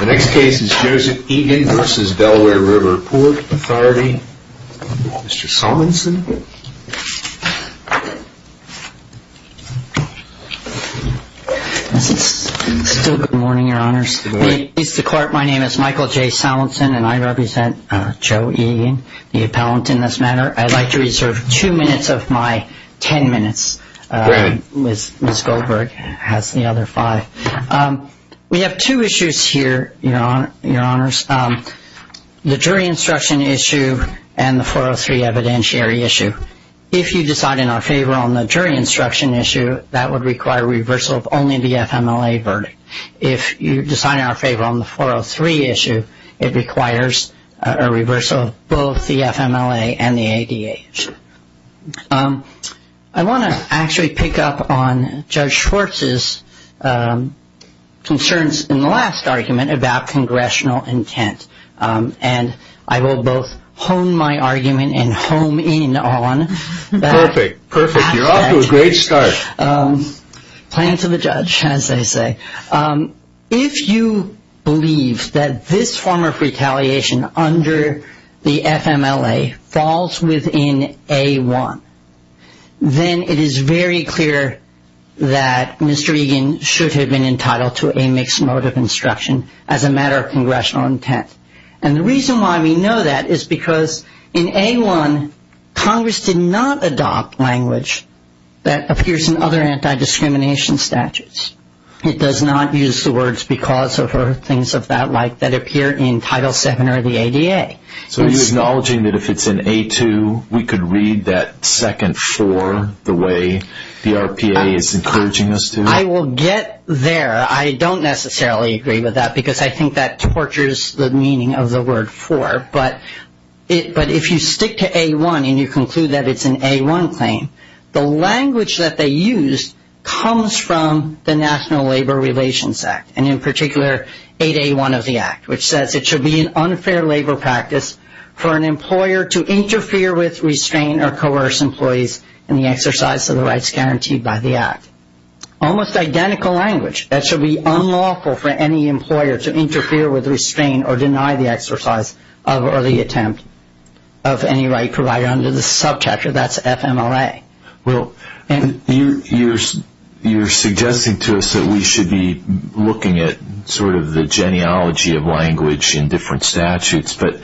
The next case is Joseph Egan v. Delaware River Port Authority. Mr. Solonson. This is still good morning, your honors. Mr. Clark, my name is Michael J. Solonson, and I represent Joe Egan, the appellant in this matter. I'd like to reserve two minutes of my ten minutes. Ms. Goldberg has the other five. We have two issues here, your honors. The jury instruction issue and the 403 evidentiary issue. If you decide in our favor on the jury instruction issue, that would require reversal of only the FMLA verdict. If you decide in our favor on the 403 issue, it requires a reversal of both the FMLA and the ADA issue. I want to actually pick up on Judge Schwartz's concerns in the last argument about congressional intent. And I will both hone my argument and hone in on that. Perfect, perfect. You're off to a great start. Playing to the judge, as they say. If you believe that this form of retaliation under the FMLA falls within A1, then it is very clear that Mr. Egan should have been entitled to a mixed mode of instruction as a matter of congressional intent. And the reason why we know that is because in A1, Congress did not adopt language that appears in other anti-discrimination statutes. It does not use the words because of or things of that like that appear in Title VII or the ADA. So are you acknowledging that if it's in A2, we could read that second for the way the RPA is encouraging us to? I will get there. I don't necessarily agree with that because I think that tortures the meaning of the word for. But if you stick to A1 and you conclude that it's an A1 claim, the language that they use comes from the National Labor Relations Act, and in particular 8A1 of the Act, which says it should be an unfair labor practice for an employer to interfere with, restrain, or coerce employees in the exercise of the rights guaranteed by the Act. Almost identical language. That should be unlawful for any employer to interfere with, Well, you're suggesting to us that we should be looking at sort of the genealogy of language in different statutes, but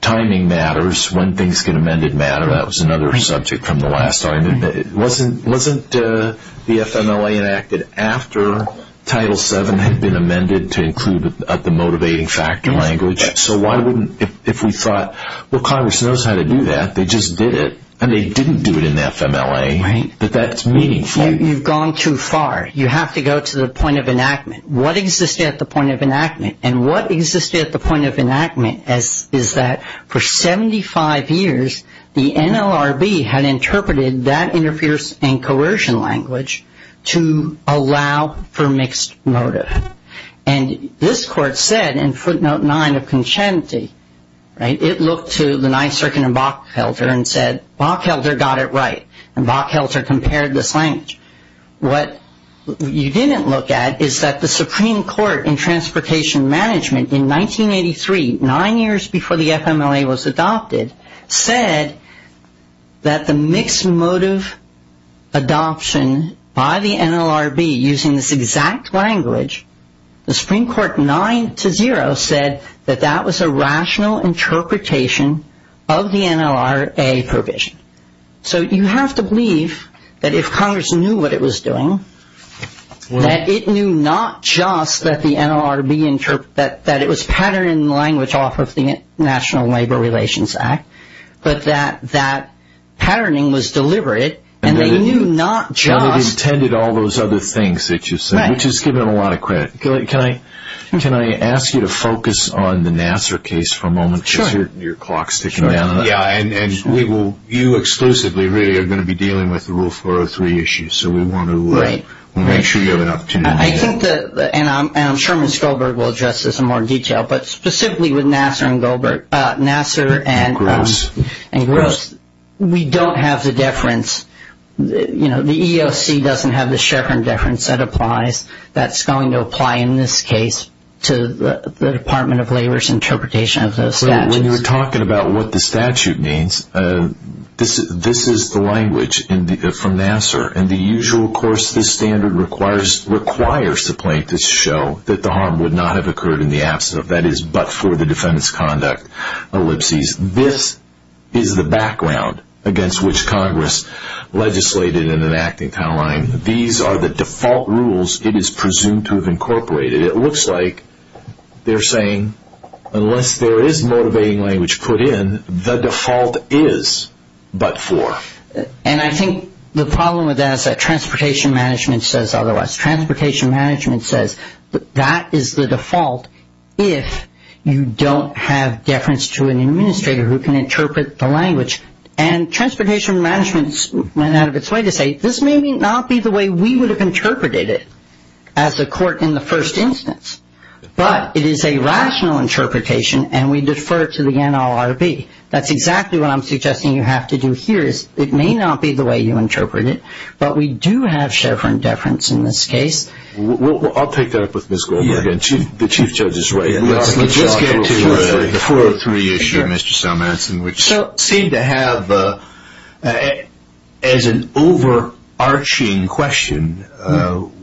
timing matters. When things get amended matters. That was another subject from the last time. Wasn't the FMLA enacted after Title VII had been amended to include the motivating factor language? So why wouldn't, if we thought, well, Congress knows how to do that. They just did it. And they didn't do it in the FMLA. But that's meaningful. You've gone too far. You have to go to the point of enactment. What existed at the point of enactment, and what existed at the point of enactment, is that for 75 years the NLRB had interpreted that interference and coercion language to allow for mixed motive. And this court said in footnote nine of Conscienti, right, it looked to the Ninth Circuit and Bockhelter and said, Bockhelter got it right. And Bockhelter compared this language. What you didn't look at is that the Supreme Court in Transportation Management in 1983, nine years before the FMLA was adopted, said that the mixed motive adoption by the NLRB using this exact language, the Supreme Court nine to zero said that that was a rational interpretation of the NLRA provision. So you have to believe that if Congress knew what it was doing, that it knew not just that the NLRB interpreted that it was patterning language off of the National Labor Relations Act, but that that patterning was deliberate, and they knew not just. But it intended all those other things that you said, which has given them a lot of credit. Can I ask you to focus on the Nassar case for a moment? Sure. Because your clock is ticking down. Yeah, and we will, you exclusively really are going to be dealing with the Rule 403 issue. So we want to make sure you have an opportunity. I think that, and I'm sure Ms. Goldberg will address this in more detail, but specifically with Nassar and Gross, we don't have the deference. You know, the EEOC doesn't have the Schaeffer deference that applies, that's going to apply in this case to the Department of Labor's interpretation of those statutes. When you're talking about what the statute means, this is the language from Nassar, and the usual course the standard requires the plaintiffs show that the harm would not have occurred in the absence of, that is, but for the defendant's conduct ellipses. This is the background against which Congress legislated in an acting timeline. These are the default rules it is presumed to have incorporated. It looks like they're saying unless there is motivating language put in, the default is but for. And I think the problem with that is that transportation management says otherwise. Transportation management says that is the default if you don't have deference to an administrator who can interpret the language. And transportation management went out of its way to say this may not be the way we would have interpreted it as a court in the first instance. But it is a rational interpretation, and we defer to the NLRB. That's exactly what I'm suggesting you have to do here is it may not be the way you interpret it, but we do have Schaeffer indifference in this case. I'll take that up with Ms. Goldberg. The Chief Judge is right. Let's get to the 403 issue, Mr. Salmanson, which seemed to have, as an overarching question,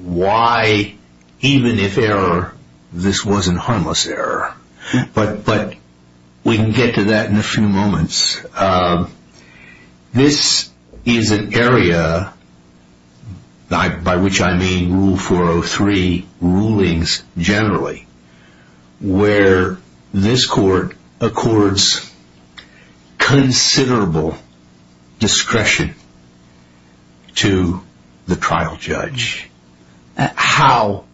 why even if error, this wasn't harmless error. But we can get to that in a few moments. This is an area, by which I mean Rule 403 rulings generally, where this court accords considerable discretion to the trial judge. How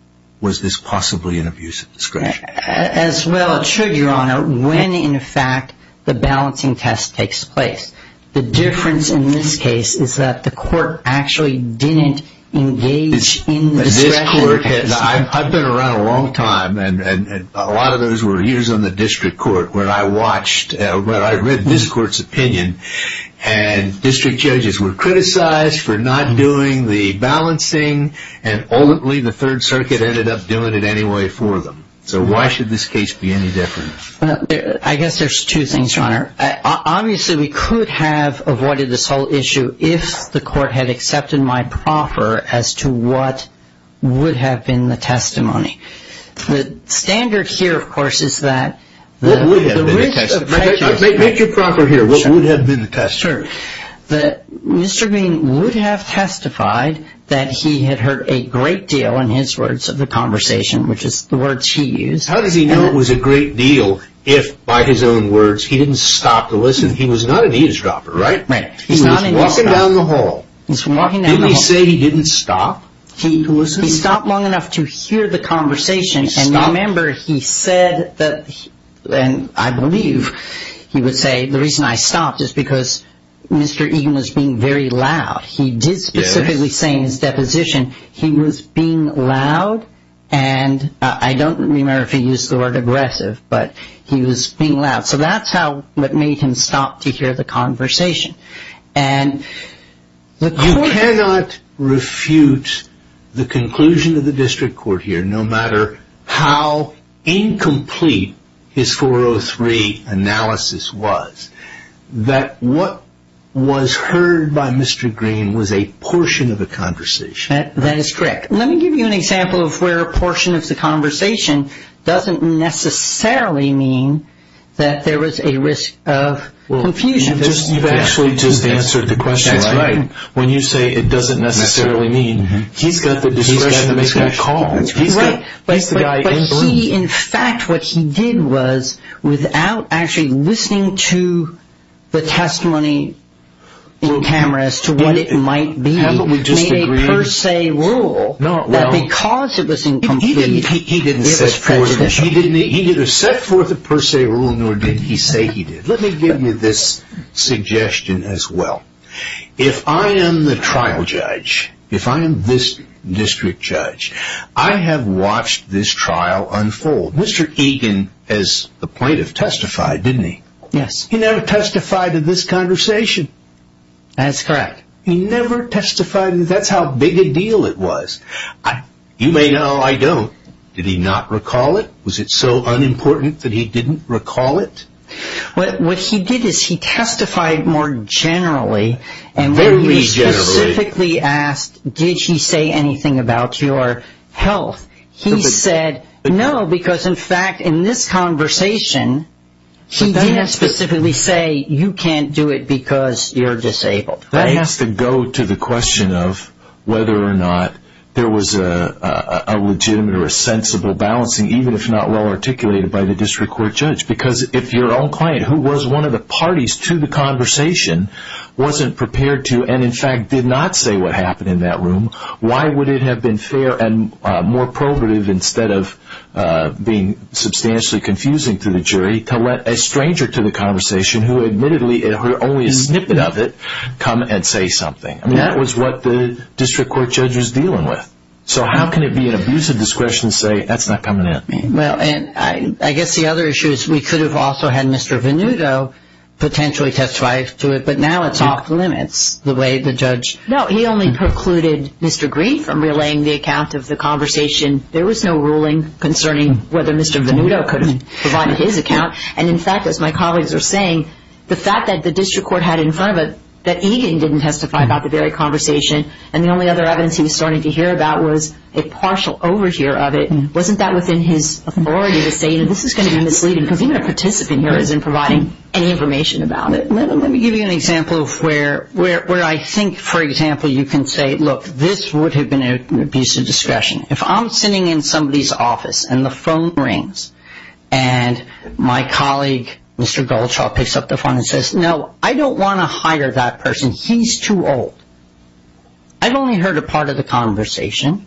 was this possibly an abuse of discretion? As well it should, Your Honor, when in fact the balancing test takes place. The difference in this case is that the court actually didn't engage in the discussion. I've been around a long time, and a lot of those were years on the district court, where I read this court's opinion, and district judges were criticized for not doing the balancing, and ultimately the Third Circuit ended up doing it anyway for them. So why should this case be any different? I guess there's two things, Your Honor. Obviously, we could have avoided this whole issue if the court had accepted my proffer as to what would have been the testimony. The standard here, of course, is that the risk of prejudice. Make your proffer here. What would have been the testimony? Sure. Mr. Green would have testified that he had heard a great deal in his words of the conversation, which is the words he used. How does he know it was a great deal if, by his own words, he didn't stop to listen? He was not an eavesdropper, right? Right. He was walking down the hall. He was walking down the hall. Didn't he say he didn't stop to listen? He stopped long enough to hear the conversation, and remember he said that, and I believe he would say the reason I stopped is because Mr. Egan was being very loud. Yes. He did specifically say in his deposition he was being loud, and I don't remember if he used the word aggressive, but he was being loud. So that's what made him stop to hear the conversation. You cannot refute the conclusion of the district court here, no matter how incomplete his 403 analysis was, that what was heard by Mr. Green was a portion of the conversation. That is correct. Let me give you an example of where a portion of the conversation doesn't necessarily mean that there was a risk of confusion. You've actually just answered the question. That's right. When you say it doesn't necessarily mean, he's got the discretion to make that call. That's right. He's the guy in the room. He, in fact, what he did was, without actually listening to the testimony in camera as to what it might be, made a per se rule that because it was incomplete, it was prejudicial. He didn't set forth a per se rule, nor did he say he did. Let me give you this suggestion as well. If I am the trial judge, if I am this district judge, I have watched this trial unfold. Mr. Egan, as the plaintiff, testified, didn't he? Yes. He never testified to this conversation. That's correct. He never testified. That's how big a deal it was. You may know I don't. Did he not recall it? Was it so unimportant that he didn't recall it? What he did is he testified more generally. Very generally. He specifically asked, did he say anything about your health? He said no, because, in fact, in this conversation, he did specifically say, you can't do it because you're disabled. That has to go to the question of whether or not there was a legitimate or a sensible balancing, even if not well articulated by the district court judge. Because if your own client, who was one of the parties to the conversation, wasn't prepared to and, in fact, did not say what happened in that room, why would it have been fair and more probative, instead of being substantially confusing to the jury, to let a stranger to the conversation, who admittedly heard only a snippet of it, come and say something? That was what the district court judge was dealing with. So how can it be an abuse of discretion to say that's not coming in? Well, I guess the other issue is we could have also had Mr. Venuto potentially testify to it, but now it's off limits the way the judge. No, he only precluded Mr. Green from relaying the account of the conversation. There was no ruling concerning whether Mr. Venuto could have provided his account. And, in fact, as my colleagues are saying, the fact that the district court had in front of it that Egan didn't testify about the very conversation and the only other evidence he was starting to hear about was a partial overhear of it, wasn't that within his authority to say this is going to be misleading? Because even a participant here isn't providing any information about it. Let me give you an example of where I think, for example, you can say, look, this would have been an abuse of discretion. If I'm sitting in somebody's office and the phone rings and my colleague, Mr. Goldshaw, picks up the phone and says, no, I don't want to hire that person. He's too old. I've only heard a part of the conversation.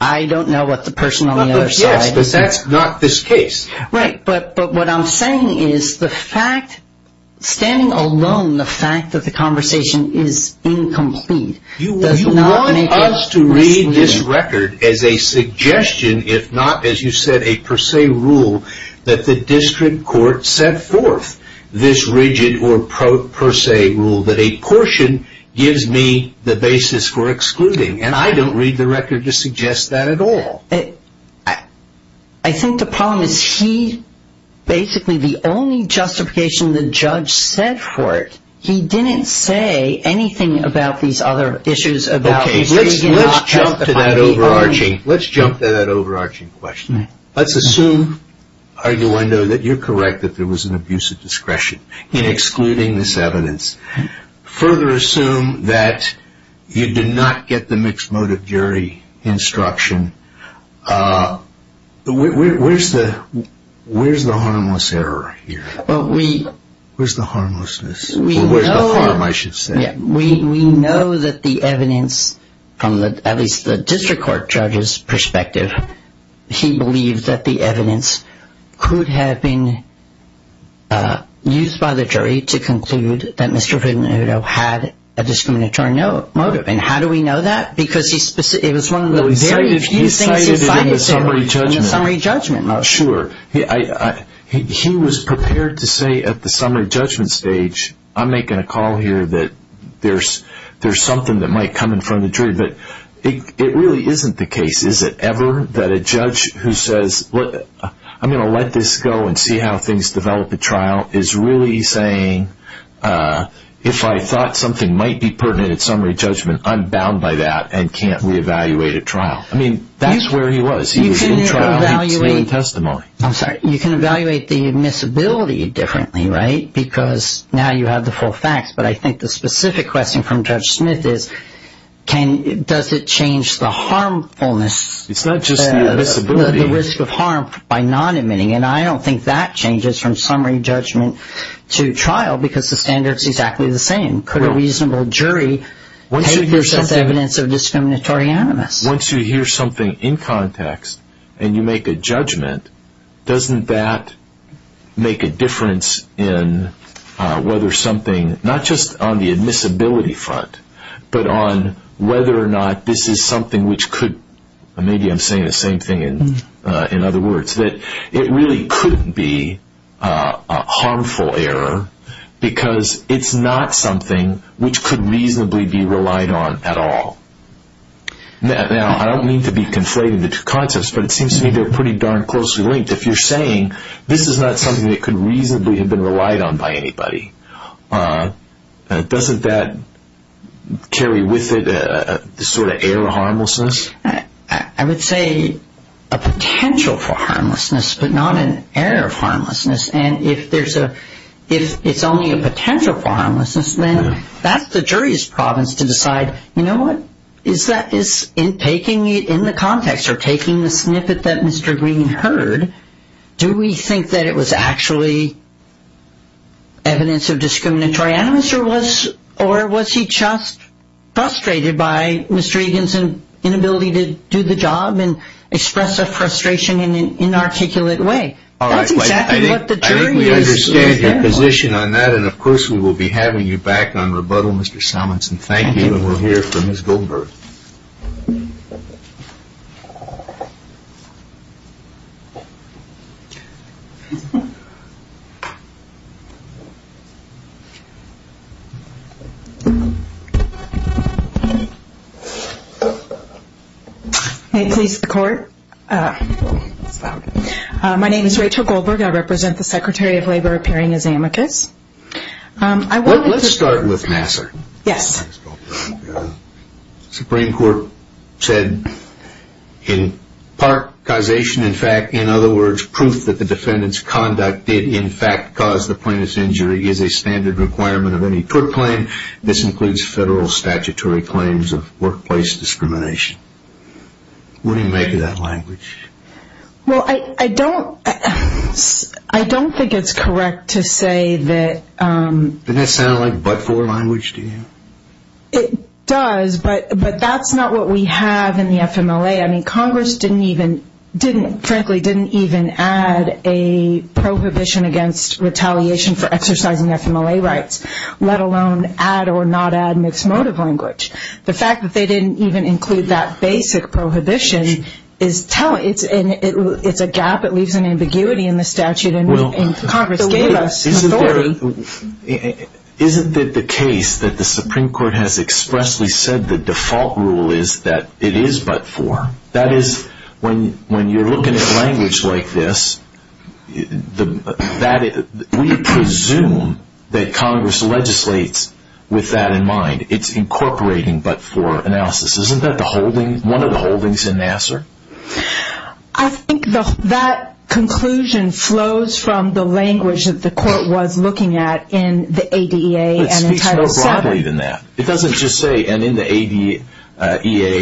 I don't know what the person on the other side is. Yes, but that's not this case. Right. But what I'm saying is the fact, standing alone, the fact that the conversation is incomplete does not make it misleading. You want us to read this record as a suggestion, if not, as you said, a per se rule that the district court set forth this rigid or per se rule that a portion gives me the basis for excluding. And I don't read the record to suggest that at all. I think the problem is he basically, the only justification the judge set forth, he didn't say anything about these other issues. Okay, let's jump to that overarching question. Let's assume, Arduendo, that you're correct that there was an abuse of discretion in excluding this evidence. Further assume that you did not get the mixed motive jury instruction. Where's the harmless error here? Where's the harmlessness? Or where's the harm, I should say? We know that the evidence, at least from the district court judge's perspective, he believed that the evidence could have been used by the jury to conclude that Mr. Arduendo had a discriminatory motive. And how do we know that? Because it was one of the very few things he cited in the summary judgment. Sure. He was prepared to say at the summary judgment stage, I'm making a call here that there's something that might come in front of the jury. But it really isn't the case. Is it ever that a judge who says, I'm going to let this go and see how things develop at trial, is really saying, if I thought something might be pertinent at summary judgment, I'm bound by that and can't re-evaluate at trial. I mean, that's where he was. He was in trial. He was in testimony. I'm sorry. You can evaluate the admissibility differently, right? Because now you have the full facts. But I think the specific question from Judge Smith is, does it change the harmfulness? It's not just the admissibility. The risk of harm by non-admitting. And I don't think that changes from summary judgment to trial because the standard is exactly the same. Could a reasonable jury take this as evidence of discriminatory animus? Once you hear something in context and you make a judgment, doesn't that make a difference in whether something, not just on the admissibility front, but on whether or not this is something which could, maybe I'm saying the same thing in other words, that it really couldn't be a harmful error because it's not something which could reasonably be relied on at all. Now, I don't mean to be conflated into two concepts, but it seems to me they're pretty darn closely linked. If you're saying this is not something that could reasonably have been relied on by anybody, doesn't that carry with it a sort of error of harmlessness? I would say a potential for harmlessness, but not an error of harmlessness. And if there's a, if it's only a potential for harmlessness, then that's the jury's province to decide, you know what? Is that, in taking it in the context or taking the snippet that Mr. Green heard, do we think that it was actually evidence of discriminatory animus or was he just frustrated by Mr. Egan's inability to do the job and express a frustration in an inarticulate way? I think we understand your position on that, and of course we will be having you back on rebuttal, Mr. Salmonson. Thank you, and we'll hear from Ms. Goldberg. May it please the Court? My name is Rachel Goldberg. I represent the Secretary of Labor appearing as amicus. Let's start with Nassar. Yes. The Supreme Court said in part causation, in fact, in other words, proof that the defendant's conduct did in fact cause the plaintiff's injury is a standard requirement of any court claim. This includes federal statutory claims of workplace discrimination. What do you make of that language? Well, I don't think it's correct to say that... Doesn't it sound like but-for language to you? It does, but that's not what we have in the FMLA. I mean, Congress frankly didn't even add a prohibition against retaliation for exercising FMLA rights, let alone add or not add mixed motive language. The fact that they didn't even include that basic prohibition is telling. It's a gap that leaves an ambiguity in the statute, and Congress gave us authority. Isn't it the case that the Supreme Court has expressly said the default rule is that it is but-for? That is, when you're looking at language like this, we presume that Congress legislates with that in mind. It's incorporating but-for analysis. Isn't that one of the holdings in Nassar? I think that conclusion flows from the language that the court was looking at in the ADEA and in Title VII. It speaks more broadly than that. It doesn't just say, and in the ADEA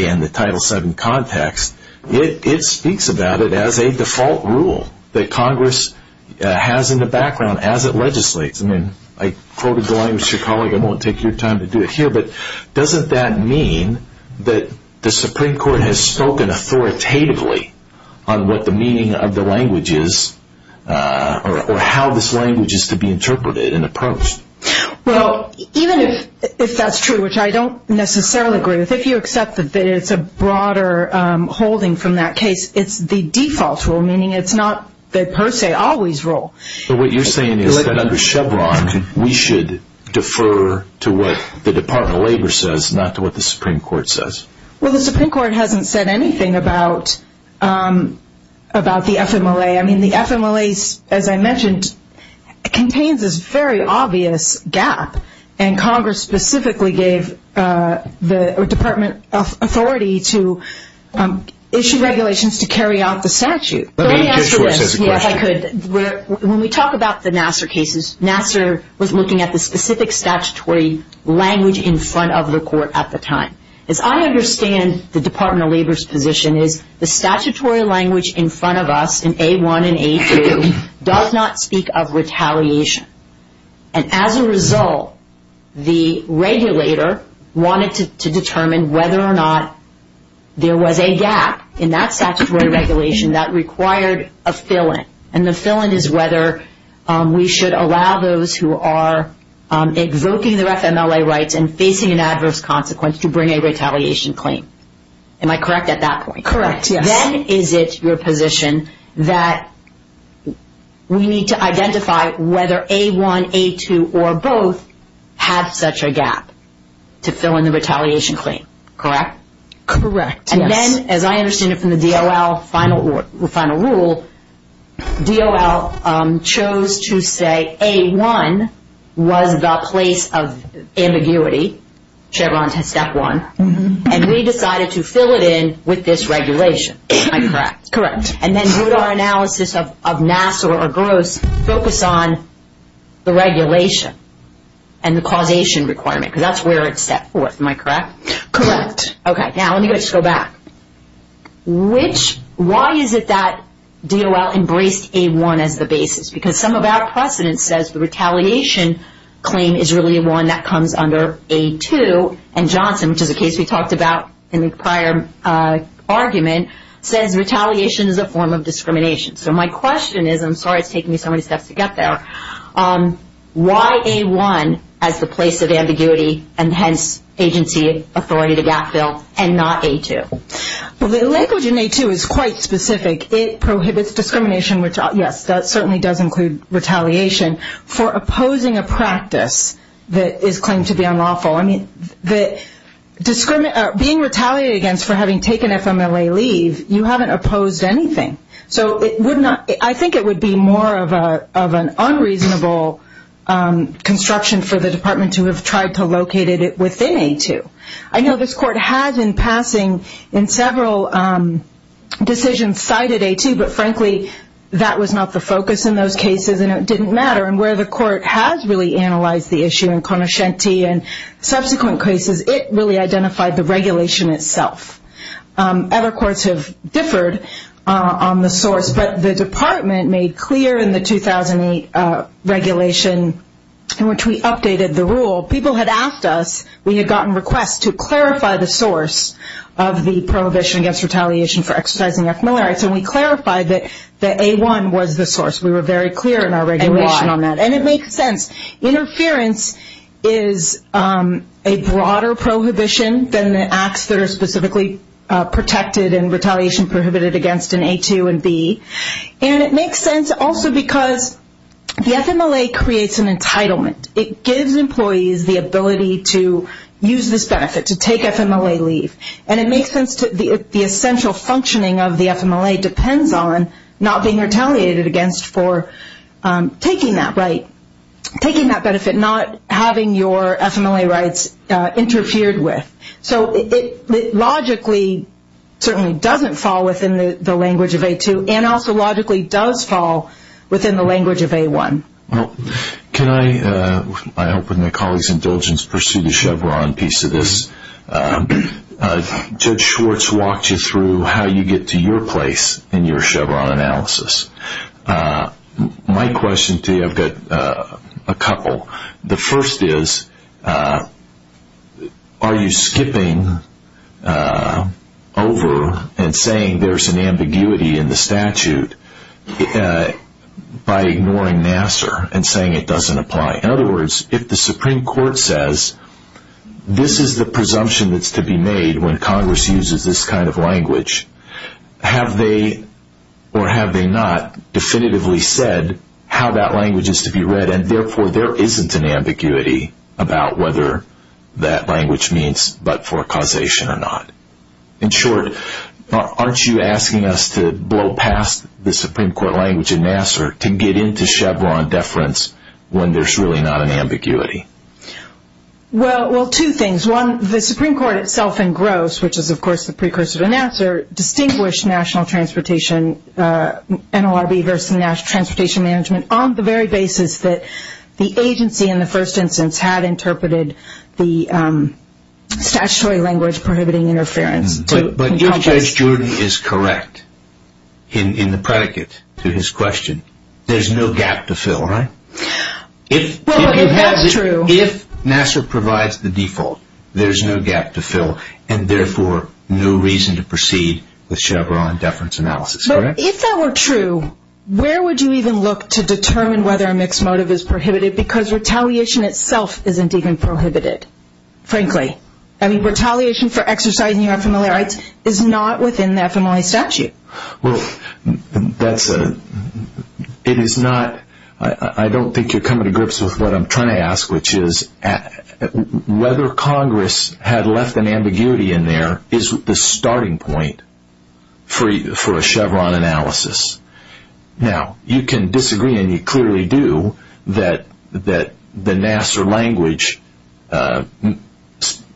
and the Title VII context, it speaks about it as a default rule that Congress has in the background as it legislates. I mean, I quoted the language of your colleague. I won't take your time to do it here, but doesn't that mean that the Supreme Court has spoken authoritatively on what the meaning of the language is or how this language is to be interpreted and approached? Well, even if that's true, which I don't necessarily agree with, if you accept that it's a broader holding from that case, it's the default rule, meaning it's not the per se always rule. But what you're saying is that under Chevron, we should defer to what the Department of Labor says, not to what the Supreme Court says. Well, the Supreme Court hasn't said anything about the FMLA. I mean, the FMLA, as I mentioned, contains this very obvious gap, and Congress specifically gave the department authority to issue regulations to carry out the statute. Let me answer this. Yes, I could. When we talk about the Nassar cases, Nassar was looking at the specific statutory language in front of the court at the time. As I understand the Department of Labor's position, the statutory language in front of us in A1 and A2 does not speak of retaliation. And as a result, the regulator wanted to determine whether or not there was a gap in that statutory regulation that required a fill-in. And the fill-in is whether we should allow those who are evoking their FMLA rights and facing an adverse consequence to bring a retaliation claim. Am I correct at that point? Correct, yes. Then is it your position that we need to identify whether A1, A2, or both have such a gap to fill in the retaliation claim, correct? Correct, yes. Then, as I understand it from the DOL final rule, DOL chose to say A1 was the place of ambiguity, Chevron to Step 1, and we decided to fill it in with this regulation. Am I correct? Correct. And then would our analysis of Nassar or Gross focus on the regulation and the causation requirement? Because that's where it's set forth. Am I correct? Correct. Okay, now let me just go back. Why is it that DOL embraced A1 as the basis? Because some of our precedent says the retaliation claim is really one that comes under A2, and Johnson, which is a case we talked about in the prior argument, says retaliation is a form of discrimination. So my question is, I'm sorry it's taking me so many steps to get there, why A1 as the place of ambiguity and, hence, agency authority to gap fill and not A2? Well, the language in A2 is quite specific. It prohibits discrimination, which, yes, that certainly does include retaliation, for opposing a practice that is claimed to be unlawful. I mean, being retaliated against for having taken FMLA leave, you haven't opposed anything. So I think it would be more of an unreasonable construction for the department to have tried to locate it within A2. I know this court has in passing in several decisions cited A2, but, frankly, that was not the focus in those cases, and it didn't matter. And where the court has really analyzed the issue in Conoscenti and subsequent cases, it really identified the regulation itself. Other courts have differed on the source, but the department made clear in the 2008 regulation in which we updated the rule, people had asked us, we had gotten requests, to clarify the source of the prohibition against retaliation for exercising FMLA rights, and we clarified that A1 was the source. We were very clear in our regulation on that, and it makes sense. Interference is a broader prohibition than the acts that are specifically protected and retaliation prohibited against in A2 and B. And it makes sense also because the FMLA creates an entitlement. It gives employees the ability to use this benefit, to take FMLA leave. And it makes sense that the essential functioning of the FMLA depends on not being retaliated against for taking that right, taking that benefit, not having your FMLA rights interfered with. So it logically certainly doesn't fall within the language of A2, and also logically does fall within the language of A1. Well, can I, I hope with my colleagues' indulgence, pursue the Chevron piece of this. Judge Schwartz walked you through how you get to your place in your Chevron analysis. My question to you, I've got a couple. The first is, are you skipping over and saying there's an ambiguity in the statute by ignoring Nassar and saying it doesn't apply? In other words, if the Supreme Court says this is the presumption that's to be made when Congress uses this kind of language, have they or have they not definitively said how that language is to be read, and therefore there isn't an ambiguity about whether that language means but for causation or not? In short, aren't you asking us to blow past the Supreme Court language in Nassar to get into Chevron deference when there's really not an ambiguity? Well, two things. One, the Supreme Court itself in Gross, which is of course the precursor to Nassar, distinguished National Transportation, NLRB versus National Transportation Management on the very basis that the agency in the first instance had interpreted the statutory language prohibiting interference. But if Judge Jordan is correct in the predicate to his question, there's no gap to fill, right? Well, if that's true. If Nassar provides the default, there's no gap to fill, and therefore no reason to proceed with Chevron deference analysis, correct? But if that were true, where would you even look to determine whether a mixed motive is prohibited because retaliation itself isn't even prohibited, frankly? I mean, retaliation for exercising your FMLA rights is not within the FMLA statute. Well, I don't think you're coming to grips with what I'm trying to ask, which is whether Congress had left an ambiguity in there is the starting point for a Chevron analysis. Now, you can disagree, and you clearly do, that the Nassar language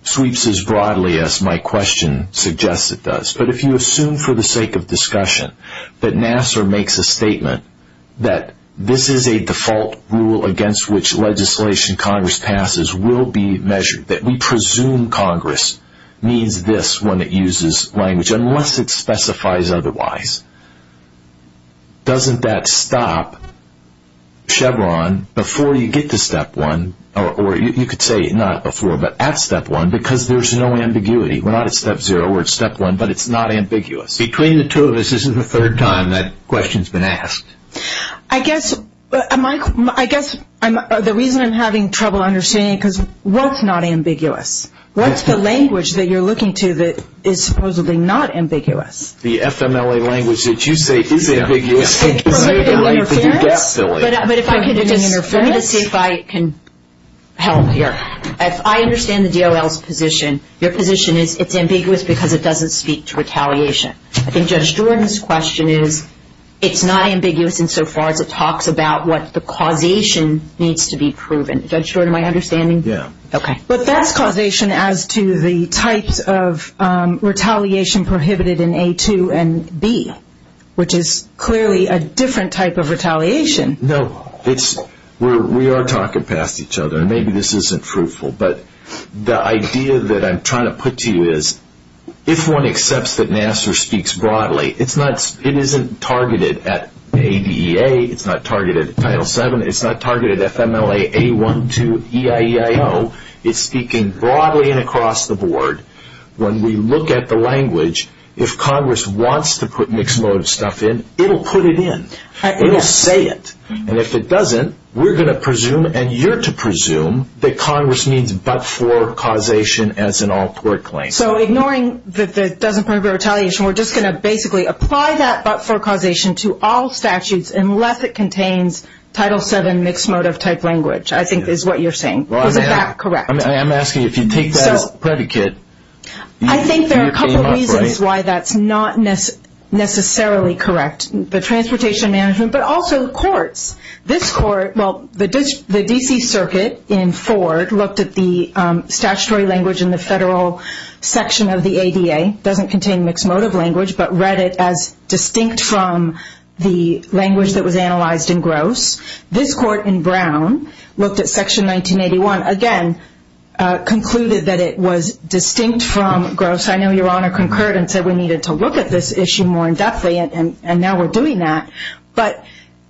sweeps as broadly as my question suggests it does. But if you assume for the sake of discussion that Nassar makes a statement that this is a default rule against which legislation Congress passes will be measured, that we presume Congress means this when it uses language, unless it specifies otherwise, doesn't that stop Chevron before you get to Step 1? Or you could say not before, but at Step 1, because there's no ambiguity. We're not at Step 0. We're at Step 1, but it's not ambiguous. Between the two of us, this is the third time that question's been asked. I guess the reason I'm having trouble understanding it is because what's not ambiguous? What's the language that you're looking to that is supposedly not ambiguous? The FMLA language that you say is ambiguous. But if I could just see if I can help here. If I understand the DOL's position, your position is it's ambiguous because it doesn't speak to retaliation. I think Judge Jordan's question is it's not ambiguous insofar as it talks about what the causation needs to be proven. Judge Jordan, am I understanding? Yeah. Okay. But that's causation as to the types of retaliation prohibited in A2 and B, which is clearly a different type of retaliation. No. We are talking past each other. Maybe this isn't fruitful, but the idea that I'm trying to put to you is if one accepts that NASA speaks broadly, it isn't targeted at ADEA. It's not targeted at Title VII. It's not targeted at FMLA A1 to EIEIO. It's speaking broadly and across the board. When we look at the language, if Congress wants to put mixed-mode stuff in, it'll put it in. It'll say it. And if it doesn't, we're going to presume and you're to presume that Congress needs but-for causation as an all-court claim. So ignoring the doesn't prohibit retaliation, we're just going to basically apply that but-for causation to all statutes unless it contains Title VII mixed-mode of type language, I think is what you're saying. Is that correct? I'm asking if you take that as predicate. I think there are a couple reasons why that's not necessarily correct. The transportation management but also the courts. This court, well, the D.C. Circuit in Ford looked at the statutory language in the federal section of the ADA. It doesn't contain mixed-mode of language but read it as distinct from the language that was analyzed in Gross. This court in Brown looked at Section 1981. I know Your Honor concurred and said we needed to look at this issue more indepthly and now we're doing that. But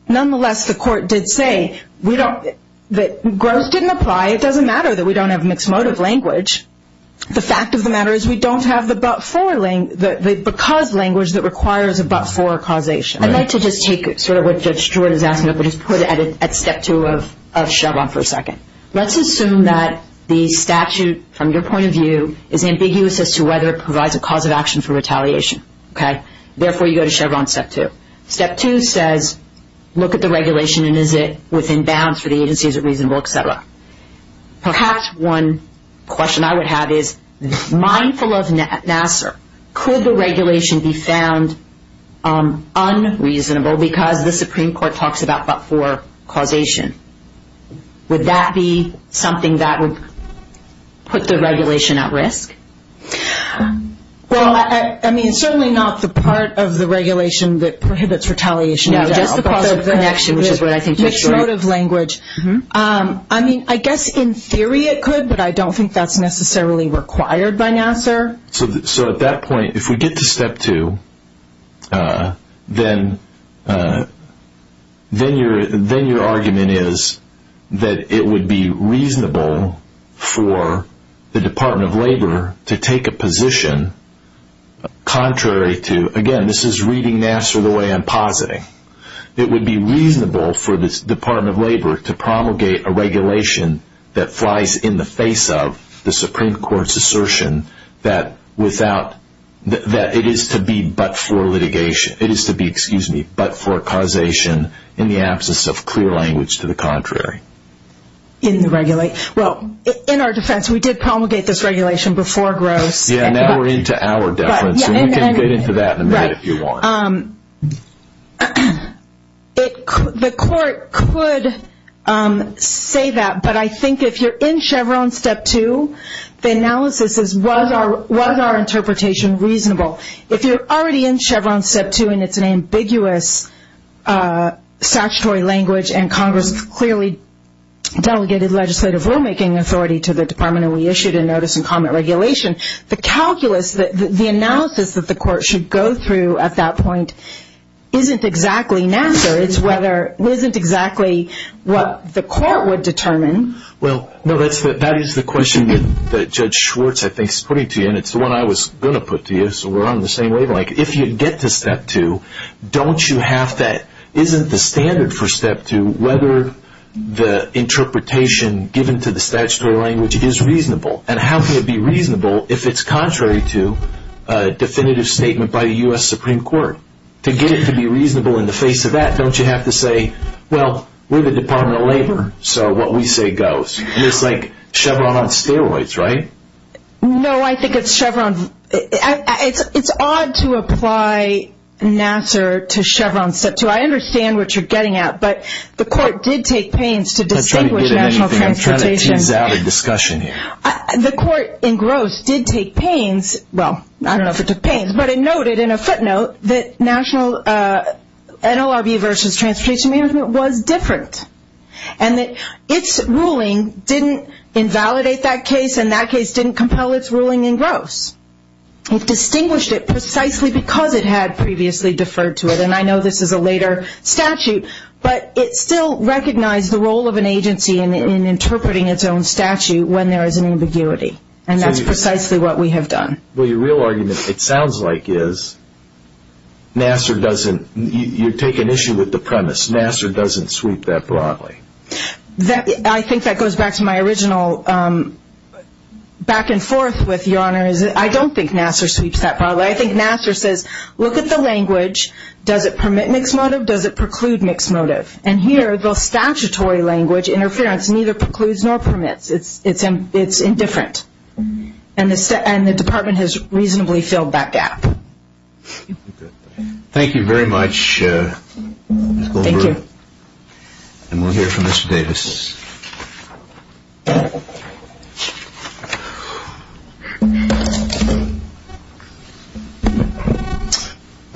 nonetheless, the court did say that Gross didn't apply. It doesn't matter that we don't have mixed-mode of language. The fact of the matter is we don't have the but-for because language that requires a but-for causation. I'd like to just take sort of what Judge Stewart is asking but just put it at step two of Chevron for a second. Let's assume that the statute from your point of view is ambiguous as to whether it provides a cause of action for retaliation. Therefore, you go to Chevron step two. Step two says look at the regulation and is it within bounds for the agency, is it reasonable, et cetera. Perhaps one question I would have is mindful of Nassar. Could the regulation be found unreasonable because the Supreme Court talks about but-for causation? Would that be something that would put the regulation at risk? Well, I mean, certainly not the part of the regulation that prohibits retaliation. No, just the cause of connection, which is what I think Judge Stewart. Mixed-mode of language. I mean, I guess in theory it could, but I don't think that's necessarily required by Nassar. So at that point, if we get to step two, then your argument is that it would be reasonable for the Department of Labor to take a position contrary to, again, this is reading Nassar the way I'm positing. It would be reasonable for the Department of Labor to promulgate a regulation that flies in the face of the Supreme Court's assertion that it is to be but-for litigation. It is to be, excuse me, but-for causation in the absence of clear language to the contrary. In the regulation. Well, in our defense, we did promulgate this regulation before Gross. Yeah, now we're into our deference, and we can get into that in a minute if you want. Right. The court could say that, but I think if you're in Chevron step two, the analysis is was our interpretation reasonable? If you're already in Chevron step two and it's an ambiguous statutory language and Congress clearly delegated legislative rulemaking authority to the Department and we issued a notice and comment regulation, the calculus, the analysis that the court should go through at that point isn't exactly Nassar. It isn't exactly what the court would determine. Well, no, that is the question that Judge Schwartz, I think, is putting to you, and it's the one I was going to put to you, so we're on the same wavelength. If you get to step two, isn't the standard for step two whether the interpretation given to the statutory language is reasonable? And how can it be reasonable if it's contrary to a definitive statement by the U.S. Supreme Court? To get it to be reasonable in the face of that, don't you have to say, well, we're the Department of Labor, so what we say goes? It's like Chevron on steroids, right? No, I think it's odd to apply Nassar to Chevron step two. I understand what you're getting at, but the court did take pains to distinguish national transportation. I'm trying to tease out a discussion here. The court in Gross did take pains, well, I don't know if it took pains, but it noted in a footnote that NLRB versus Transportation Management was different, and that its ruling didn't invalidate that case and that case didn't compel its ruling in Gross. It distinguished it precisely because it had previously deferred to it, and I know this is a later statute, but it still recognized the role of an agency in interpreting its own statute when there is an ambiguity, and that's precisely what we have done. Well, your real argument, it sounds like, is Nassar doesn't, you're taking issue with the premise, Nassar doesn't sweep that broadly. I think that goes back to my original back and forth with Your Honor. I don't think Nassar sweeps that broadly. I think Nassar says, look at the language. Does it permit mixed motive? Does it preclude mixed motive? And here, the statutory language, interference, neither precludes nor permits. It's indifferent, and the department has reasonably filled that gap. Thank you. And we'll hear from Mr. Davis.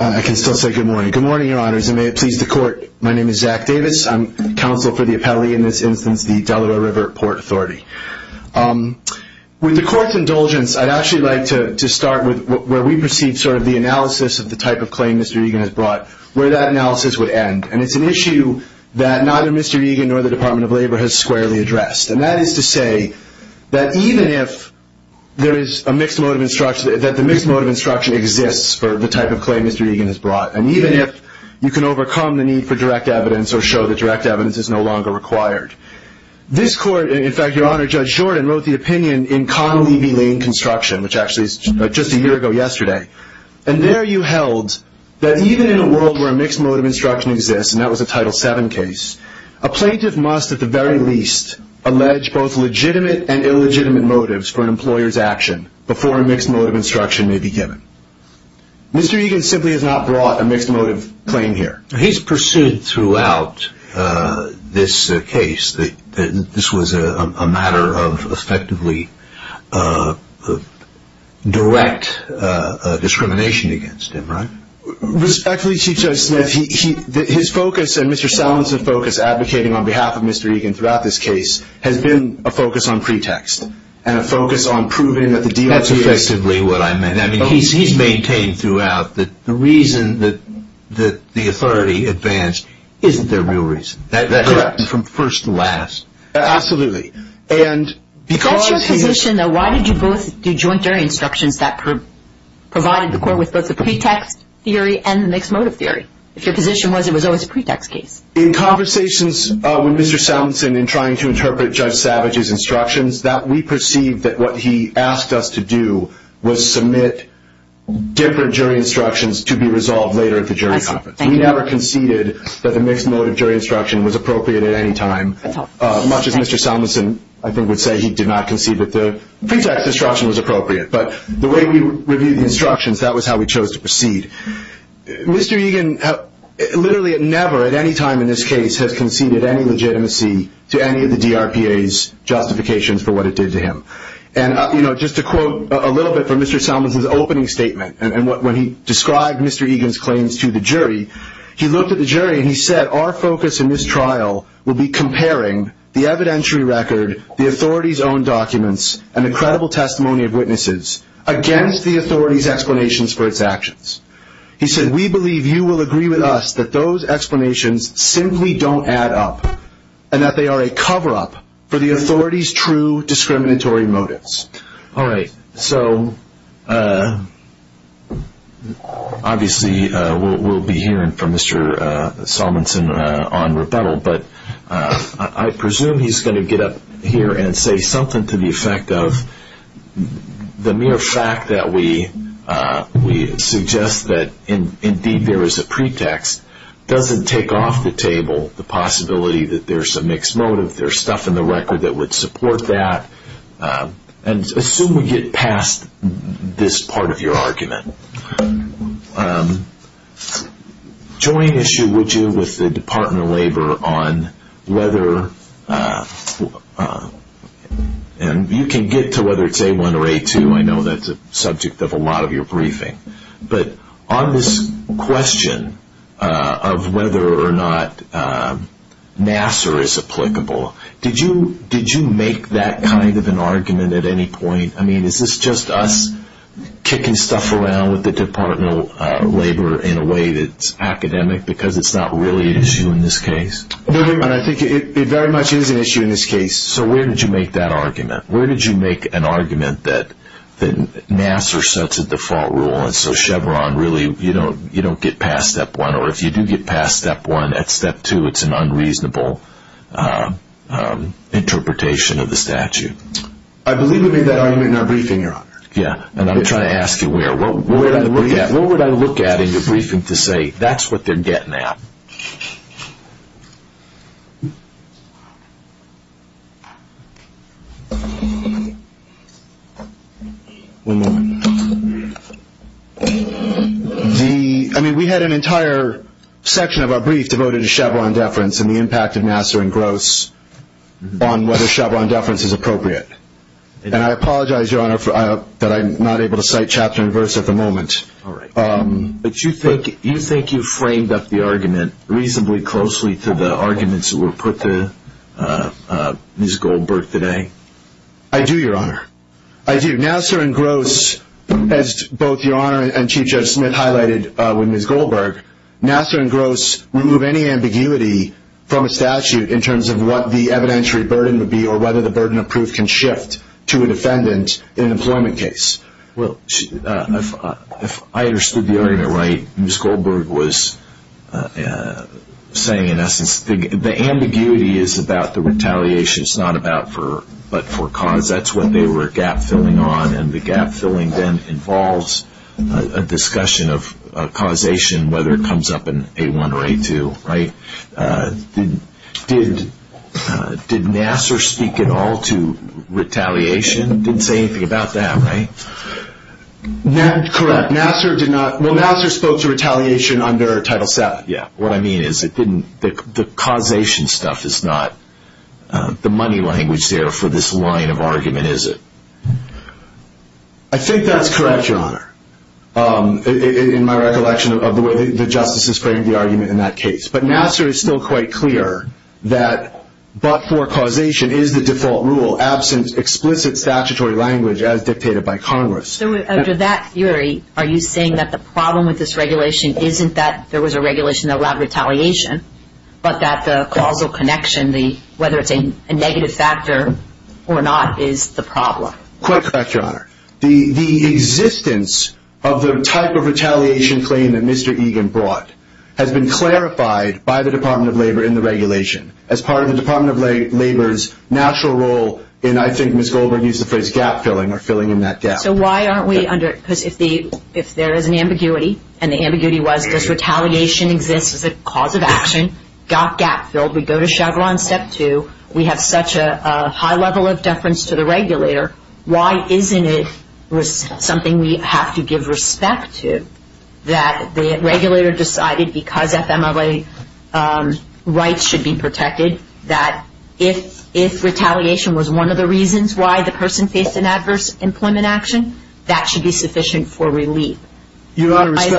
I can still say good morning. Good morning, Your Honors, and may it please the Court. My name is Zach Davis. I'm counsel for the appellee in this instance, the Delaware River Port Authority. With the Court's indulgence, I'd actually like to start with where we perceive sort of the analysis of the type of claim Mr. Egan has brought, where that analysis would end. And it's an issue that neither Mr. Egan nor the Department of Labor has squarely addressed. And that is to say that even if there is a mixed motive instruction, that the mixed motive instruction exists for the type of claim Mr. Egan has brought, and even if you can overcome the need for direct evidence or show that direct evidence is no longer required. This Court, in fact, Your Honor, Judge Jordan wrote the opinion in Connolly v. Lane Construction, which actually is just a year ago yesterday. And there you held that even in a world where a mixed motive instruction exists, and that was a Title VII case, a plaintiff must at the very least allege both legitimate and illegitimate motives for an employer's action before a mixed motive instruction may be given. Mr. Egan simply has not brought a mixed motive claim here. He's pursued throughout this case that this was a matter of effectively direct discrimination against him, right? Respectfully, Chief Judge Smith, his focus and Mr. Salinson's focus advocating on behalf of Mr. Egan throughout this case has been a focus on pretext and a focus on proving that the deal is effective. That's effectively what I meant. I mean, he's maintained throughout that the reason that the authority advanced isn't their real reason. That happened from first to last. Absolutely. If that's your position, though, why did you both do joint jury instructions that provided the Court with both the pretext theory and the mixed motive theory? If your position was it was always a pretext case. In conversations with Mr. Salinson in trying to interpret Judge Savage's instructions, we perceived that what he asked us to do was submit different jury instructions to be resolved later at the jury conference. We never conceded that the mixed motive jury instruction was appropriate at any time, much as Mr. Salinson, I think, would say he did not concede that the pretext instruction was appropriate. But the way we reviewed the instructions, that was how we chose to proceed. Mr. Egan literally never at any time in this case has conceded any legitimacy to any of the DRPA's justifications for what it did to him. And just to quote a little bit from Mr. Salinson's opening statement, when he described Mr. Egan's claims to the jury, he looked at the jury and he said, our focus in this trial will be comparing the evidentiary record, the authorities' own documents, and the credible testimony of witnesses against the authorities' explanations for its actions. He said, we believe you will agree with us that those explanations simply don't add up and that they are a cover-up for the authorities' true discriminatory motives. All right. So obviously we'll be hearing from Mr. Salinson on rebuttal, but I presume he's going to get up here and say something to the effect of the mere fact that we suggest that indeed there is a pretext doesn't take off the table the possibility that there's a mixed motive. There's stuff in the record that would support that. And assume we get past this part of your argument. Join issue, would you, with the Department of Labor on whether, and you can get to whether it's A1 or A2. I know that's a subject of a lot of your briefing. But on this question of whether or not Nassar is applicable, did you make that kind of an argument at any point? I mean, is this just us kicking stuff around with the Department of Labor in a way that's academic because it's not really an issue in this case? I think it very much is an issue in this case. So where did you make that argument? Where did you make an argument that Nassar sets a default rule and so Chevron really, you don't get past step one. Or if you do get past step one, at step two it's an unreasonable interpretation of the statute. I believe we made that argument in our briefing, Your Honor. Yeah, and I'm trying to ask you where. What would I look at in your briefing to say that's what they're getting at? One moment. I mean, we had an entire section of our brief devoted to Chevron deference and the impact of Nassar and Gross on whether Chevron deference is appropriate. And I apologize, Your Honor, that I'm not able to cite chapter and verse at the moment. All right. But you think you framed up the argument reasonably closely to the arguments that were put to Ms. Goldberg today? I do, Your Honor. I do. Nassar and Gross, as both Your Honor and Chief Judge Smith highlighted with Ms. Goldberg, Nassar and Gross remove any ambiguity from a statute in terms of what the evidentiary burden would be or whether the burden of proof can shift to a defendant in an employment case. Well, I understood the argument right. Ms. Goldberg was saying, in essence, the ambiguity is about the retaliation. It's not about but for cause. That's what they were gap-filling on. And the gap-filling then involves a discussion of causation, whether it comes up in A1 or A2, right? Did Nassar speak at all to retaliation? Didn't say anything about that, right? Correct. Nassar did not. Well, Nassar spoke to retaliation under Title VII. What I mean is the causation stuff is not the money language there for this line of argument, is it? I think that's correct, Your Honor, in my recollection of the way the justices framed the argument in that case. But Nassar is still quite clear that but for causation is the default rule, absent explicit statutory language as dictated by Congress. So under that theory, are you saying that the problem with this regulation isn't that there was a regulation that allowed retaliation but that the causal connection, whether it's a negative factor or not, is the problem? Quite correct, Your Honor. The existence of the type of retaliation claim that Mr. Egan brought has been clarified by the Department of Labor in the regulation as part of the Department of Labor's natural role in, I think Ms. Goldberg used the phrase gap-filling or filling in that gap. So why aren't we under, because if there is an ambiguity, and the ambiguity was does retaliation exist as a cause of action, got gap-filled, we go to Chevron Step 2, we have such a high level of deference to the regulator, why isn't it something we have to give respect to that the regulator decided because FMLA rights should be protected, that if retaliation was one of the reasons why the person faced an adverse employment action, that should be sufficient for relief. Why is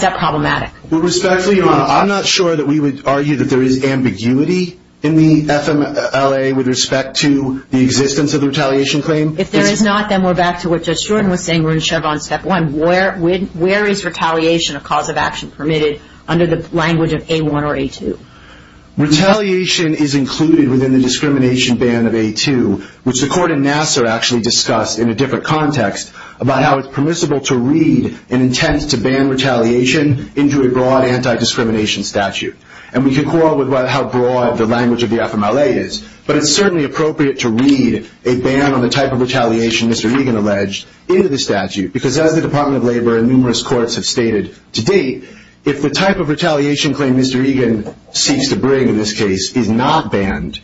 that problematic? With respect to, Your Honor, I'm not sure that we would argue that there is ambiguity in the FMLA with respect to the existence of the retaliation claim. If there is not, then we're back to what Judge Jordan was saying, we're in Chevron Step 1. Where is retaliation a cause of action permitted under the language of A1 or A2? Retaliation is included within the discrimination ban of A2, which the court in Nassau actually discussed in a different context about how it's permissible to read an intent to ban retaliation into a broad anti-discrimination statute. And we can quarrel about how broad the language of the FMLA is, but it's certainly appropriate to read a ban on the type of retaliation Mr. Egan alleged into the statute, because as the Department of Labor and numerous courts have stated to date, if the type of retaliation Mr. Egan seeks to bring in this case is not banned,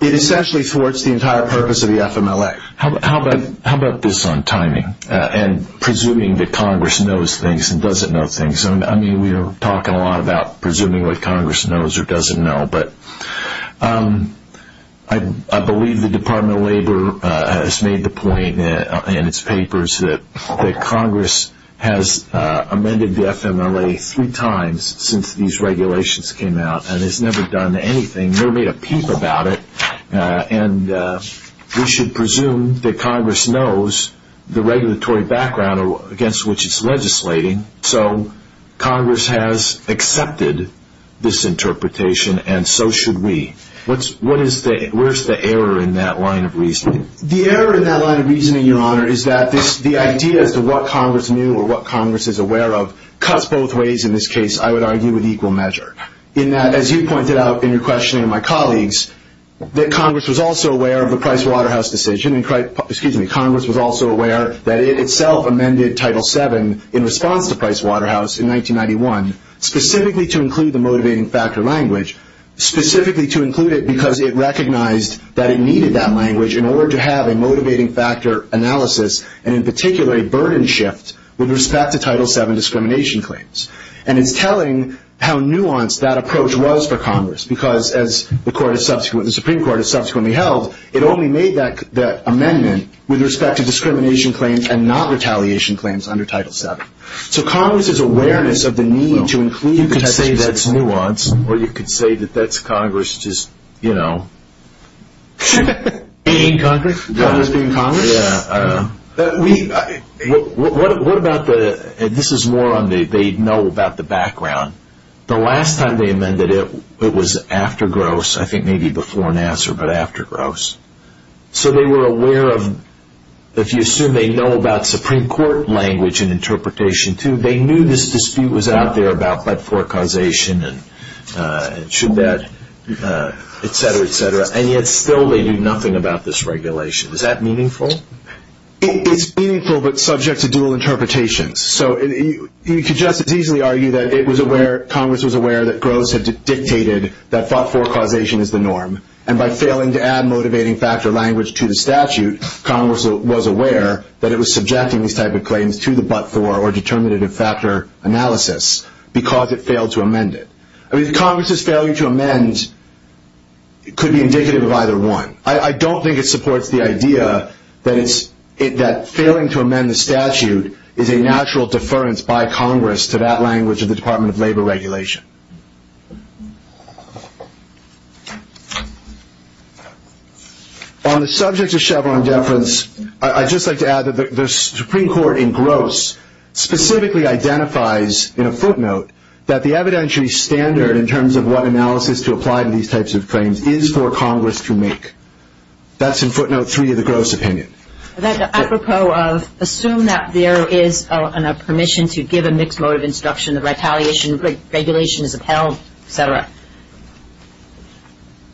it essentially thwarts the entire purpose of the FMLA. How about this on timing? And presuming that Congress knows things and doesn't know things. I mean, we are talking a lot about presuming what Congress knows or doesn't know, but I believe the Department of Labor has made the point in its papers that Congress has amended the FMLA three times since these regulations came out and has never done anything, never made a peep about it. And we should presume that Congress knows the regulatory background against which it's legislating. So Congress has accepted this interpretation, and so should we. Where's the error in that line of reasoning? The error in that line of reasoning, Your Honor, is that the idea as to what Congress knew or what Congress is aware of cuts both ways in this case, I would argue, in equal measure. In that, as you pointed out in your questioning of my colleagues, that Congress was also aware of the Price Waterhouse decision, Congress was also aware that it itself amended Title VII in response to Price Waterhouse in 1991, specifically to include the motivating factor language, specifically to include it because it recognized that it needed that language in order to have a motivating factor analysis, and in particular, a burden shift with respect to Title VII discrimination claims. And it's telling how nuanced that approach was for Congress, because as the Supreme Court has subsequently held, it only made that amendment with respect to discrimination claims and not retaliation claims under Title VII. So Congress's awareness of the need to include the text of Title VII. You could say that's nuanced, or you could say that that's Congress just, you know. Being Congress? Congress being Congress? Yeah. What about the, and this is more on the, they know about the background. The last time they amended it, it was after Gross, I think maybe before Nassar, but after Gross. So they were aware of, if you assume they know about Supreme Court language and interpretation too, they knew this dispute was out there about but-for causation and should that, et cetera, et cetera, and yet still they knew nothing about this regulation. Is that meaningful? It's meaningful, but subject to dual interpretations. So you could just as easily argue that it was aware, Congress was aware that Gross had dictated that but-for causation is the norm, and by failing to add motivating factor language to the statute, Congress was aware that it was subjecting these type of claims to the but-for or determinative factor analysis because it failed to amend it. I mean, Congress's failure to amend could be indicative of either one. I don't think it supports the idea that it's, that failing to amend the statute is a natural deference by Congress to that language of the Department of Labor regulation. On the subject of Chevron deference, I'd just like to add that the Supreme Court in Gross specifically identifies in a footnote that the evidentiary standard in terms of what analysis to apply to these types of claims is for Congress to make. That's in footnote three of the Gross opinion. Apropos of assume that there is a permission to give a mixed motive instruction, the retaliation regulation is upheld, et cetera,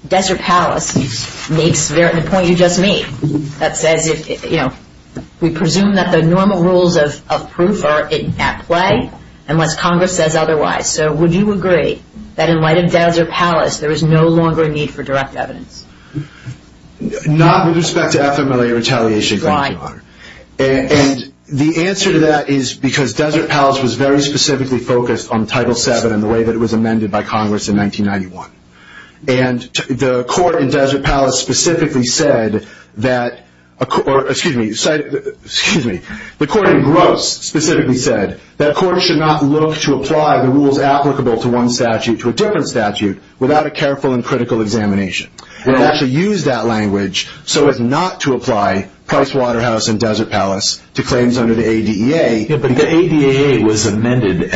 Desert Palace makes the point you just made. That says, you know, we presume that the normal rules of proof are at play unless Congress says otherwise. So would you agree that in light of Desert Palace, there is no longer a need for direct evidence? Not with respect to FMLA retaliation, Your Honor. And the answer to that is because Desert Palace was very specifically focused on Title VII and the way that it was amended by Congress in 1991. And the court in Desert Palace specifically said that, or excuse me, the court in Gross specifically said that courts should not look to apply the rules applicable to one statute to a different statute without a careful and critical examination. They actually used that language so as not to apply Price Waterhouse and Desert Palace to claims under the ADEA. Yeah, but the ADEA was amended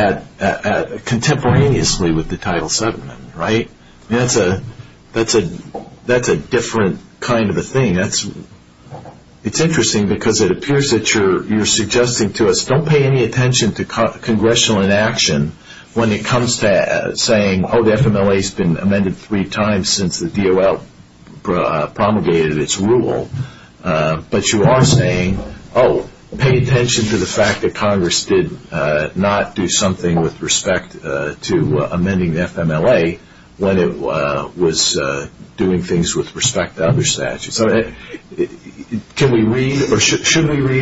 contemporaneously with the Title VII amendment, right? That's a different kind of a thing. It's interesting because it appears that you're suggesting to us, don't pay any attention to congressional inaction when it comes to saying, oh, the FMLA's been amended three times since the DOL promulgated its rule. But you are saying, oh, pay attention to the fact that Congress did not do something with respect to amending the FMLA when it was doing things with respect to other statutes. Should we read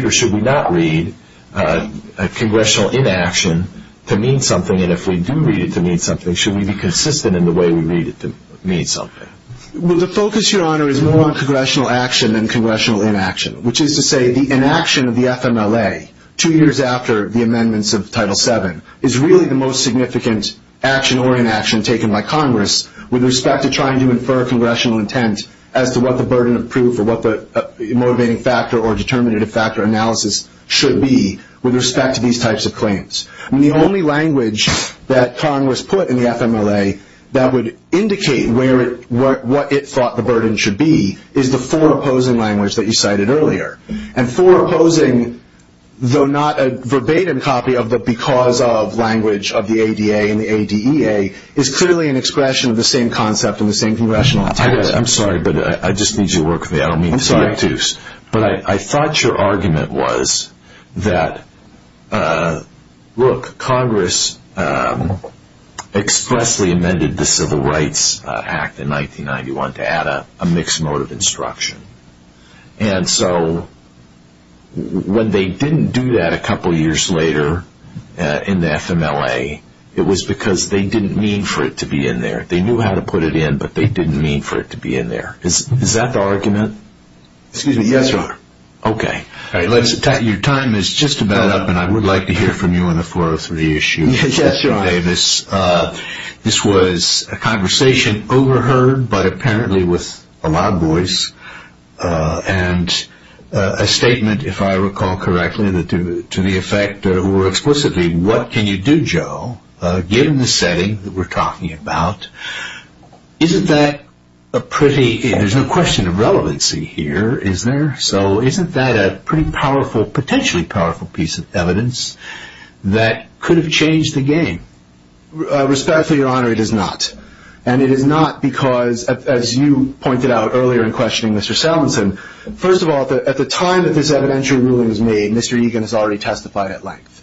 or should we not read a congressional inaction to mean something? And if we do read it to mean something, should we be consistent in the way we read it to mean something? Well, the focus, Your Honor, is more on congressional action than congressional inaction, which is to say the inaction of the FMLA two years after the amendments of Title VII is really the most significant action or inaction taken by Congress with respect to trying to infer congressional intent as to what the burden of proof or what the motivating factor or determinative factor analysis should be with respect to these types of claims. I mean, the only language that Congress put in the FMLA that would indicate what it thought the burden should be is the four opposing language that you cited earlier. And four opposing, though not a verbatim copy of the because of language of the ADA and the ADEA, is clearly an expression of the same concept and the same congressional intent. I'm sorry, but I just need you to work with me. I don't mean to be obtuse. But I thought your argument was that, look, Congress expressly amended the Civil Rights Act in 1991 to add a mixed mode of instruction. And so when they didn't do that a couple years later in the FMLA, it was because they didn't mean for it to be in there. They knew how to put it in, but they didn't mean for it to be in there. Is that the argument? Excuse me, yes, Your Honor. Okay. Your time is just about up, and I would like to hear from you on the 403 issue. Yes, Your Honor. Mr. Davis, this was a conversation overheard, but apparently with a loud voice, and a statement, if I recall correctly, to the effect more explicitly, what can you do, Joe, given the setting that we're talking about? Isn't that a pretty – there's no question of relevancy here, is there? So isn't that a pretty powerful, potentially powerful piece of evidence that could have changed the game? Respectfully, Your Honor, it is not. And it is not because, as you pointed out earlier in questioning Mr. Salmonson, first of all, at the time that this evidentiary ruling was made, Mr. Egan has already testified at length.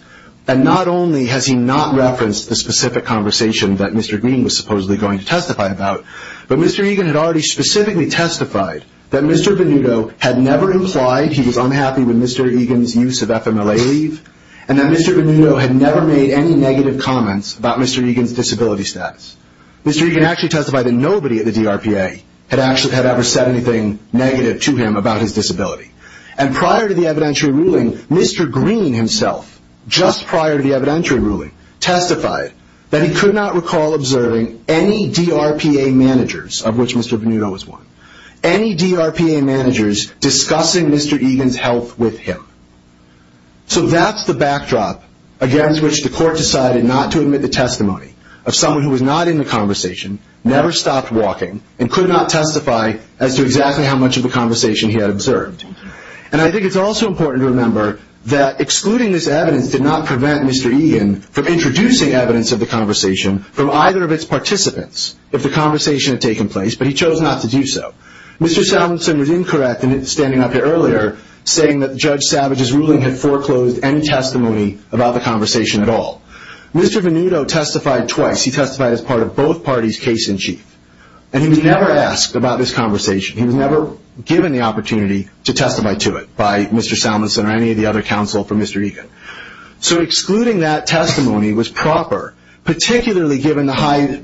And not only has he not referenced the specific conversation that Mr. Green was supposedly going to testify about, but Mr. Egan had already specifically testified that Mr. Venuto had never implied he was unhappy with Mr. Egan's use of FMLA leave, and that Mr. Venuto had never made any negative comments about Mr. Egan's disability status. Mr. Egan actually testified that nobody at the DRPA had ever said anything negative to him about his disability. And prior to the evidentiary ruling, Mr. Green himself, just prior to the evidentiary ruling, testified that he could not recall observing any DRPA managers, of which Mr. Venuto was one, any DRPA managers discussing Mr. Egan's health with him. So that's the backdrop against which the court decided not to admit the testimony of someone who was not in the conversation, never stopped walking, and could not testify as to exactly how much of the conversation he had observed. And I think it's also important to remember that excluding this evidence did not prevent Mr. Egan from introducing evidence of the conversation from either of its participants, if the conversation had taken place, but he chose not to do so. Mr. Salvinson was incorrect in standing up here earlier, saying that Judge Savage's ruling had foreclosed any testimony about the conversation at all. Mr. Venuto testified twice. He testified as part of both parties' case-in-chief. And he was never asked about this conversation. He was never given the opportunity to testify to it by Mr. Salvinson or any of the other counsel for Mr. Egan. So excluding that testimony was proper, particularly given the high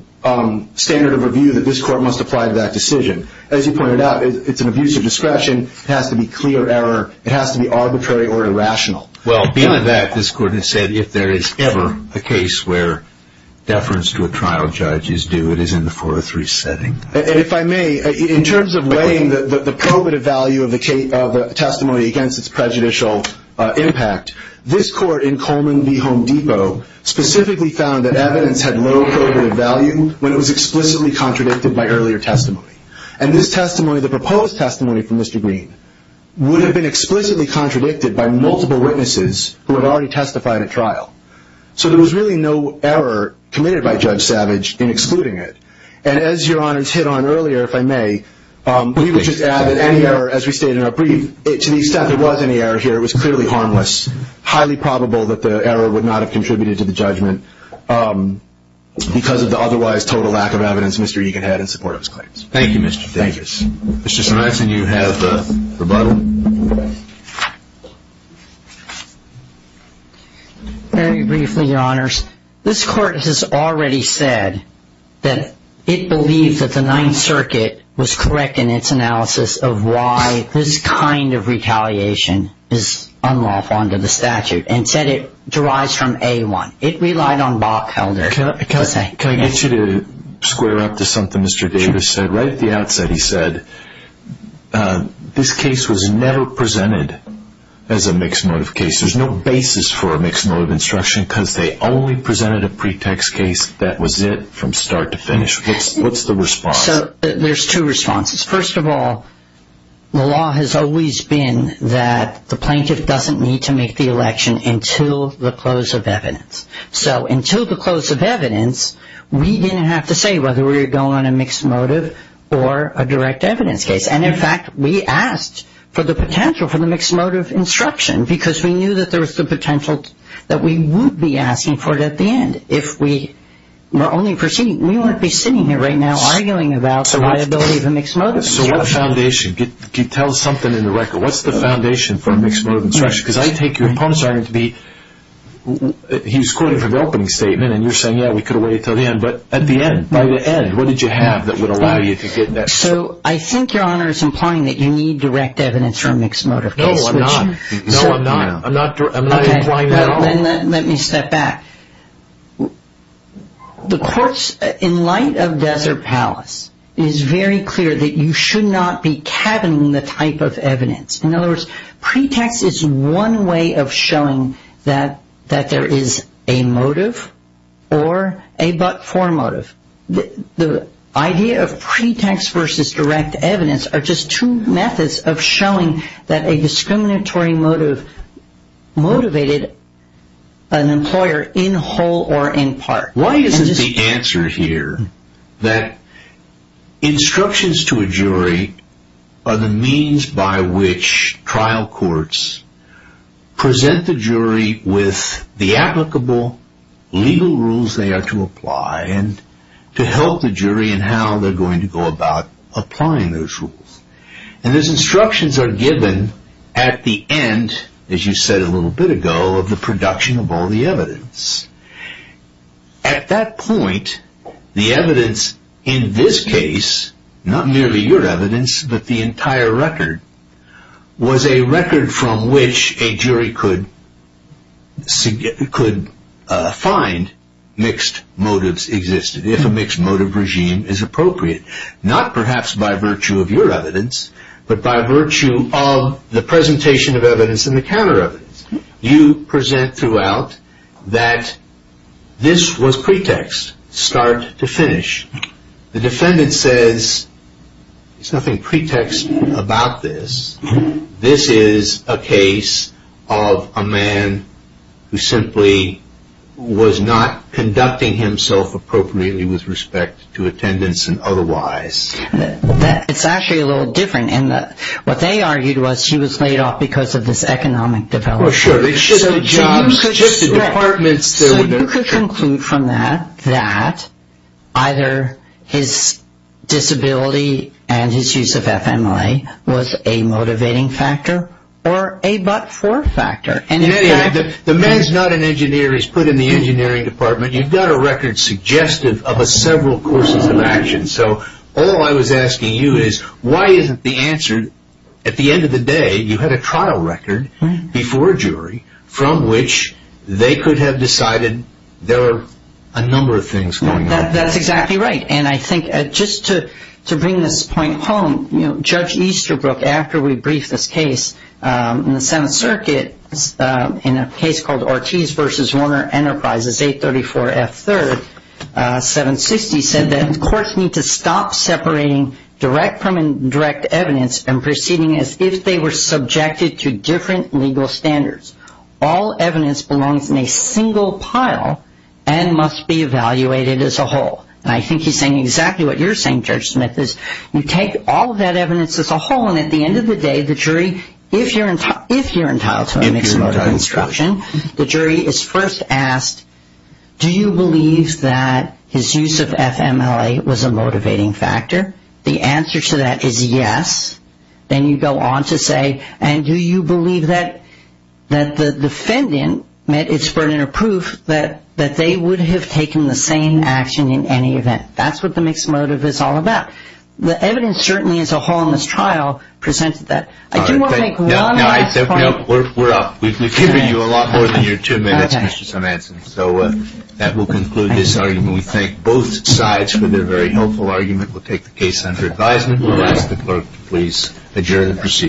standard of review that this court must apply to that decision. As you pointed out, it's an abuse of discretion. It has to be clear error. It has to be arbitrary or irrational. Well, beyond that, this court has said, if there is ever a case where deference to a trial judge is due, it is in the 403 setting. If I may, in terms of weighing the probative value of the testimony against its prejudicial impact, this court in Coleman v. Home Depot specifically found that evidence had low probative value when it was explicitly contradicted by earlier testimony. And this testimony, the proposed testimony from Mr. Green, would have been explicitly contradicted by multiple witnesses who had already testified at trial. So there was really no error committed by Judge Savage in excluding it. And as Your Honors hit on earlier, if I may, we would just add that any error, as we stated in our brief, to the extent there was any error here, it was clearly harmless, highly probable that the error would not have contributed to the judgment because of the otherwise total lack of evidence Mr. Egan had in support of his claims. Thank you, Mr. Davis. Thank you. Mr. Salvinson, you have rebuttal. Very briefly, Your Honors. This court has already said that it believed that the Ninth Circuit was correct in its analysis of why this kind of retaliation is unlawful under the statute and said it derives from A1. It relied on Bob Felder. Can I get you to square up to something Mr. Davis said? Right at the outset he said this case was never presented as a mixed motive case. There's no basis for a mixed motive instruction because they only presented a pretext case. That was it from start to finish. What's the response? So there's two responses. First of all, the law has always been that the plaintiff doesn't need to make the election until the close of evidence. So until the close of evidence, we didn't have to say whether we were going on a mixed motive or a direct evidence case. And, in fact, we asked for the potential for the mixed motive instruction because we knew that there was the potential that we would be asking for it at the end if we were only proceeding. We wouldn't be sitting here right now arguing about the liability of a mixed motive instruction. So what foundation? Tell us something in the record. What's the foundation for a mixed motive instruction? Because I take your opponent's argument to be he was quoting from the opening statement, and you're saying, yeah, we could have waited until the end. But at the end, by the end, what did you have that would allow you to get that? So I think Your Honor is implying that you need direct evidence for a mixed motive case. No, I'm not. No, I'm not. I'm not implying that at all. Okay. Then let me step back. The courts, in light of Desert Palace, is very clear that you should not be cabining the type of evidence. In other words, pretext is one way of showing that there is a motive or a but-for motive. The idea of pretext versus direct evidence are just two methods of showing that a discriminatory motive motivated an employer in whole or in part. Why isn't the answer here that instructions to a jury are the means by which trial courts present the jury with the applicable legal rules they are to apply and to help the jury in how they're going to go about applying those rules. And those instructions are given at the end, as you said a little bit ago, of the production of all the evidence. At that point, the evidence in this case, not merely your evidence, but the entire record, was a record from which a jury could find mixed motives existed, if a mixed motive regime is appropriate. Not perhaps by virtue of your evidence, but by virtue of the presentation of evidence and the counter evidence. You present throughout that this was pretext, start to finish. The defendant says there's nothing pretext about this. This is a case of a man who simply was not conducting himself appropriately with respect to attendance and otherwise. It's actually a little different. What they argued was he was laid off because of this economic development. Well, sure. So you could conclude from that that either his disability and his use of FMLA was a motivating factor or a but-for factor. In any event, the man's not an engineer. He's put in the engineering department. You've got a record suggestive of several courses of action. So all I was asking you is why isn't the answer, at the end of the day, you had a trial record before a jury, from which they could have decided there were a number of things going on. That's exactly right. And I think just to bring this point home, Judge Easterbrook, after we briefed this case in the Seventh Circuit, in a case called Ortiz v. Warner Enterprises, 834F3rd, 760, said that courts need to stop separating direct from indirect evidence and proceeding as if they were subjected to different legal standards. All evidence belongs in a single pile and must be evaluated as a whole. And I think he's saying exactly what you're saying, Judge Smith, is you take all of that evidence as a whole, and at the end of the day, the jury, if you're entitled to a mixed motive instruction, the jury is first asked, do you believe that his use of FMLA was a motivating factor? The answer to that is yes. Then you go on to say, and do you believe that the defendant met its burden of proof that they would have taken the same action in any event? That's what the mixed motive is all about. The evidence certainly as a whole in this trial presents that. I do want to make one last point. We're up. We've given you a lot more than your two minutes, Mr. Simanson. So that will conclude this argument. We thank both sides for their very helpful argument. We'll take the case under advisement. We'll ask the clerk to please adjourn and proceed.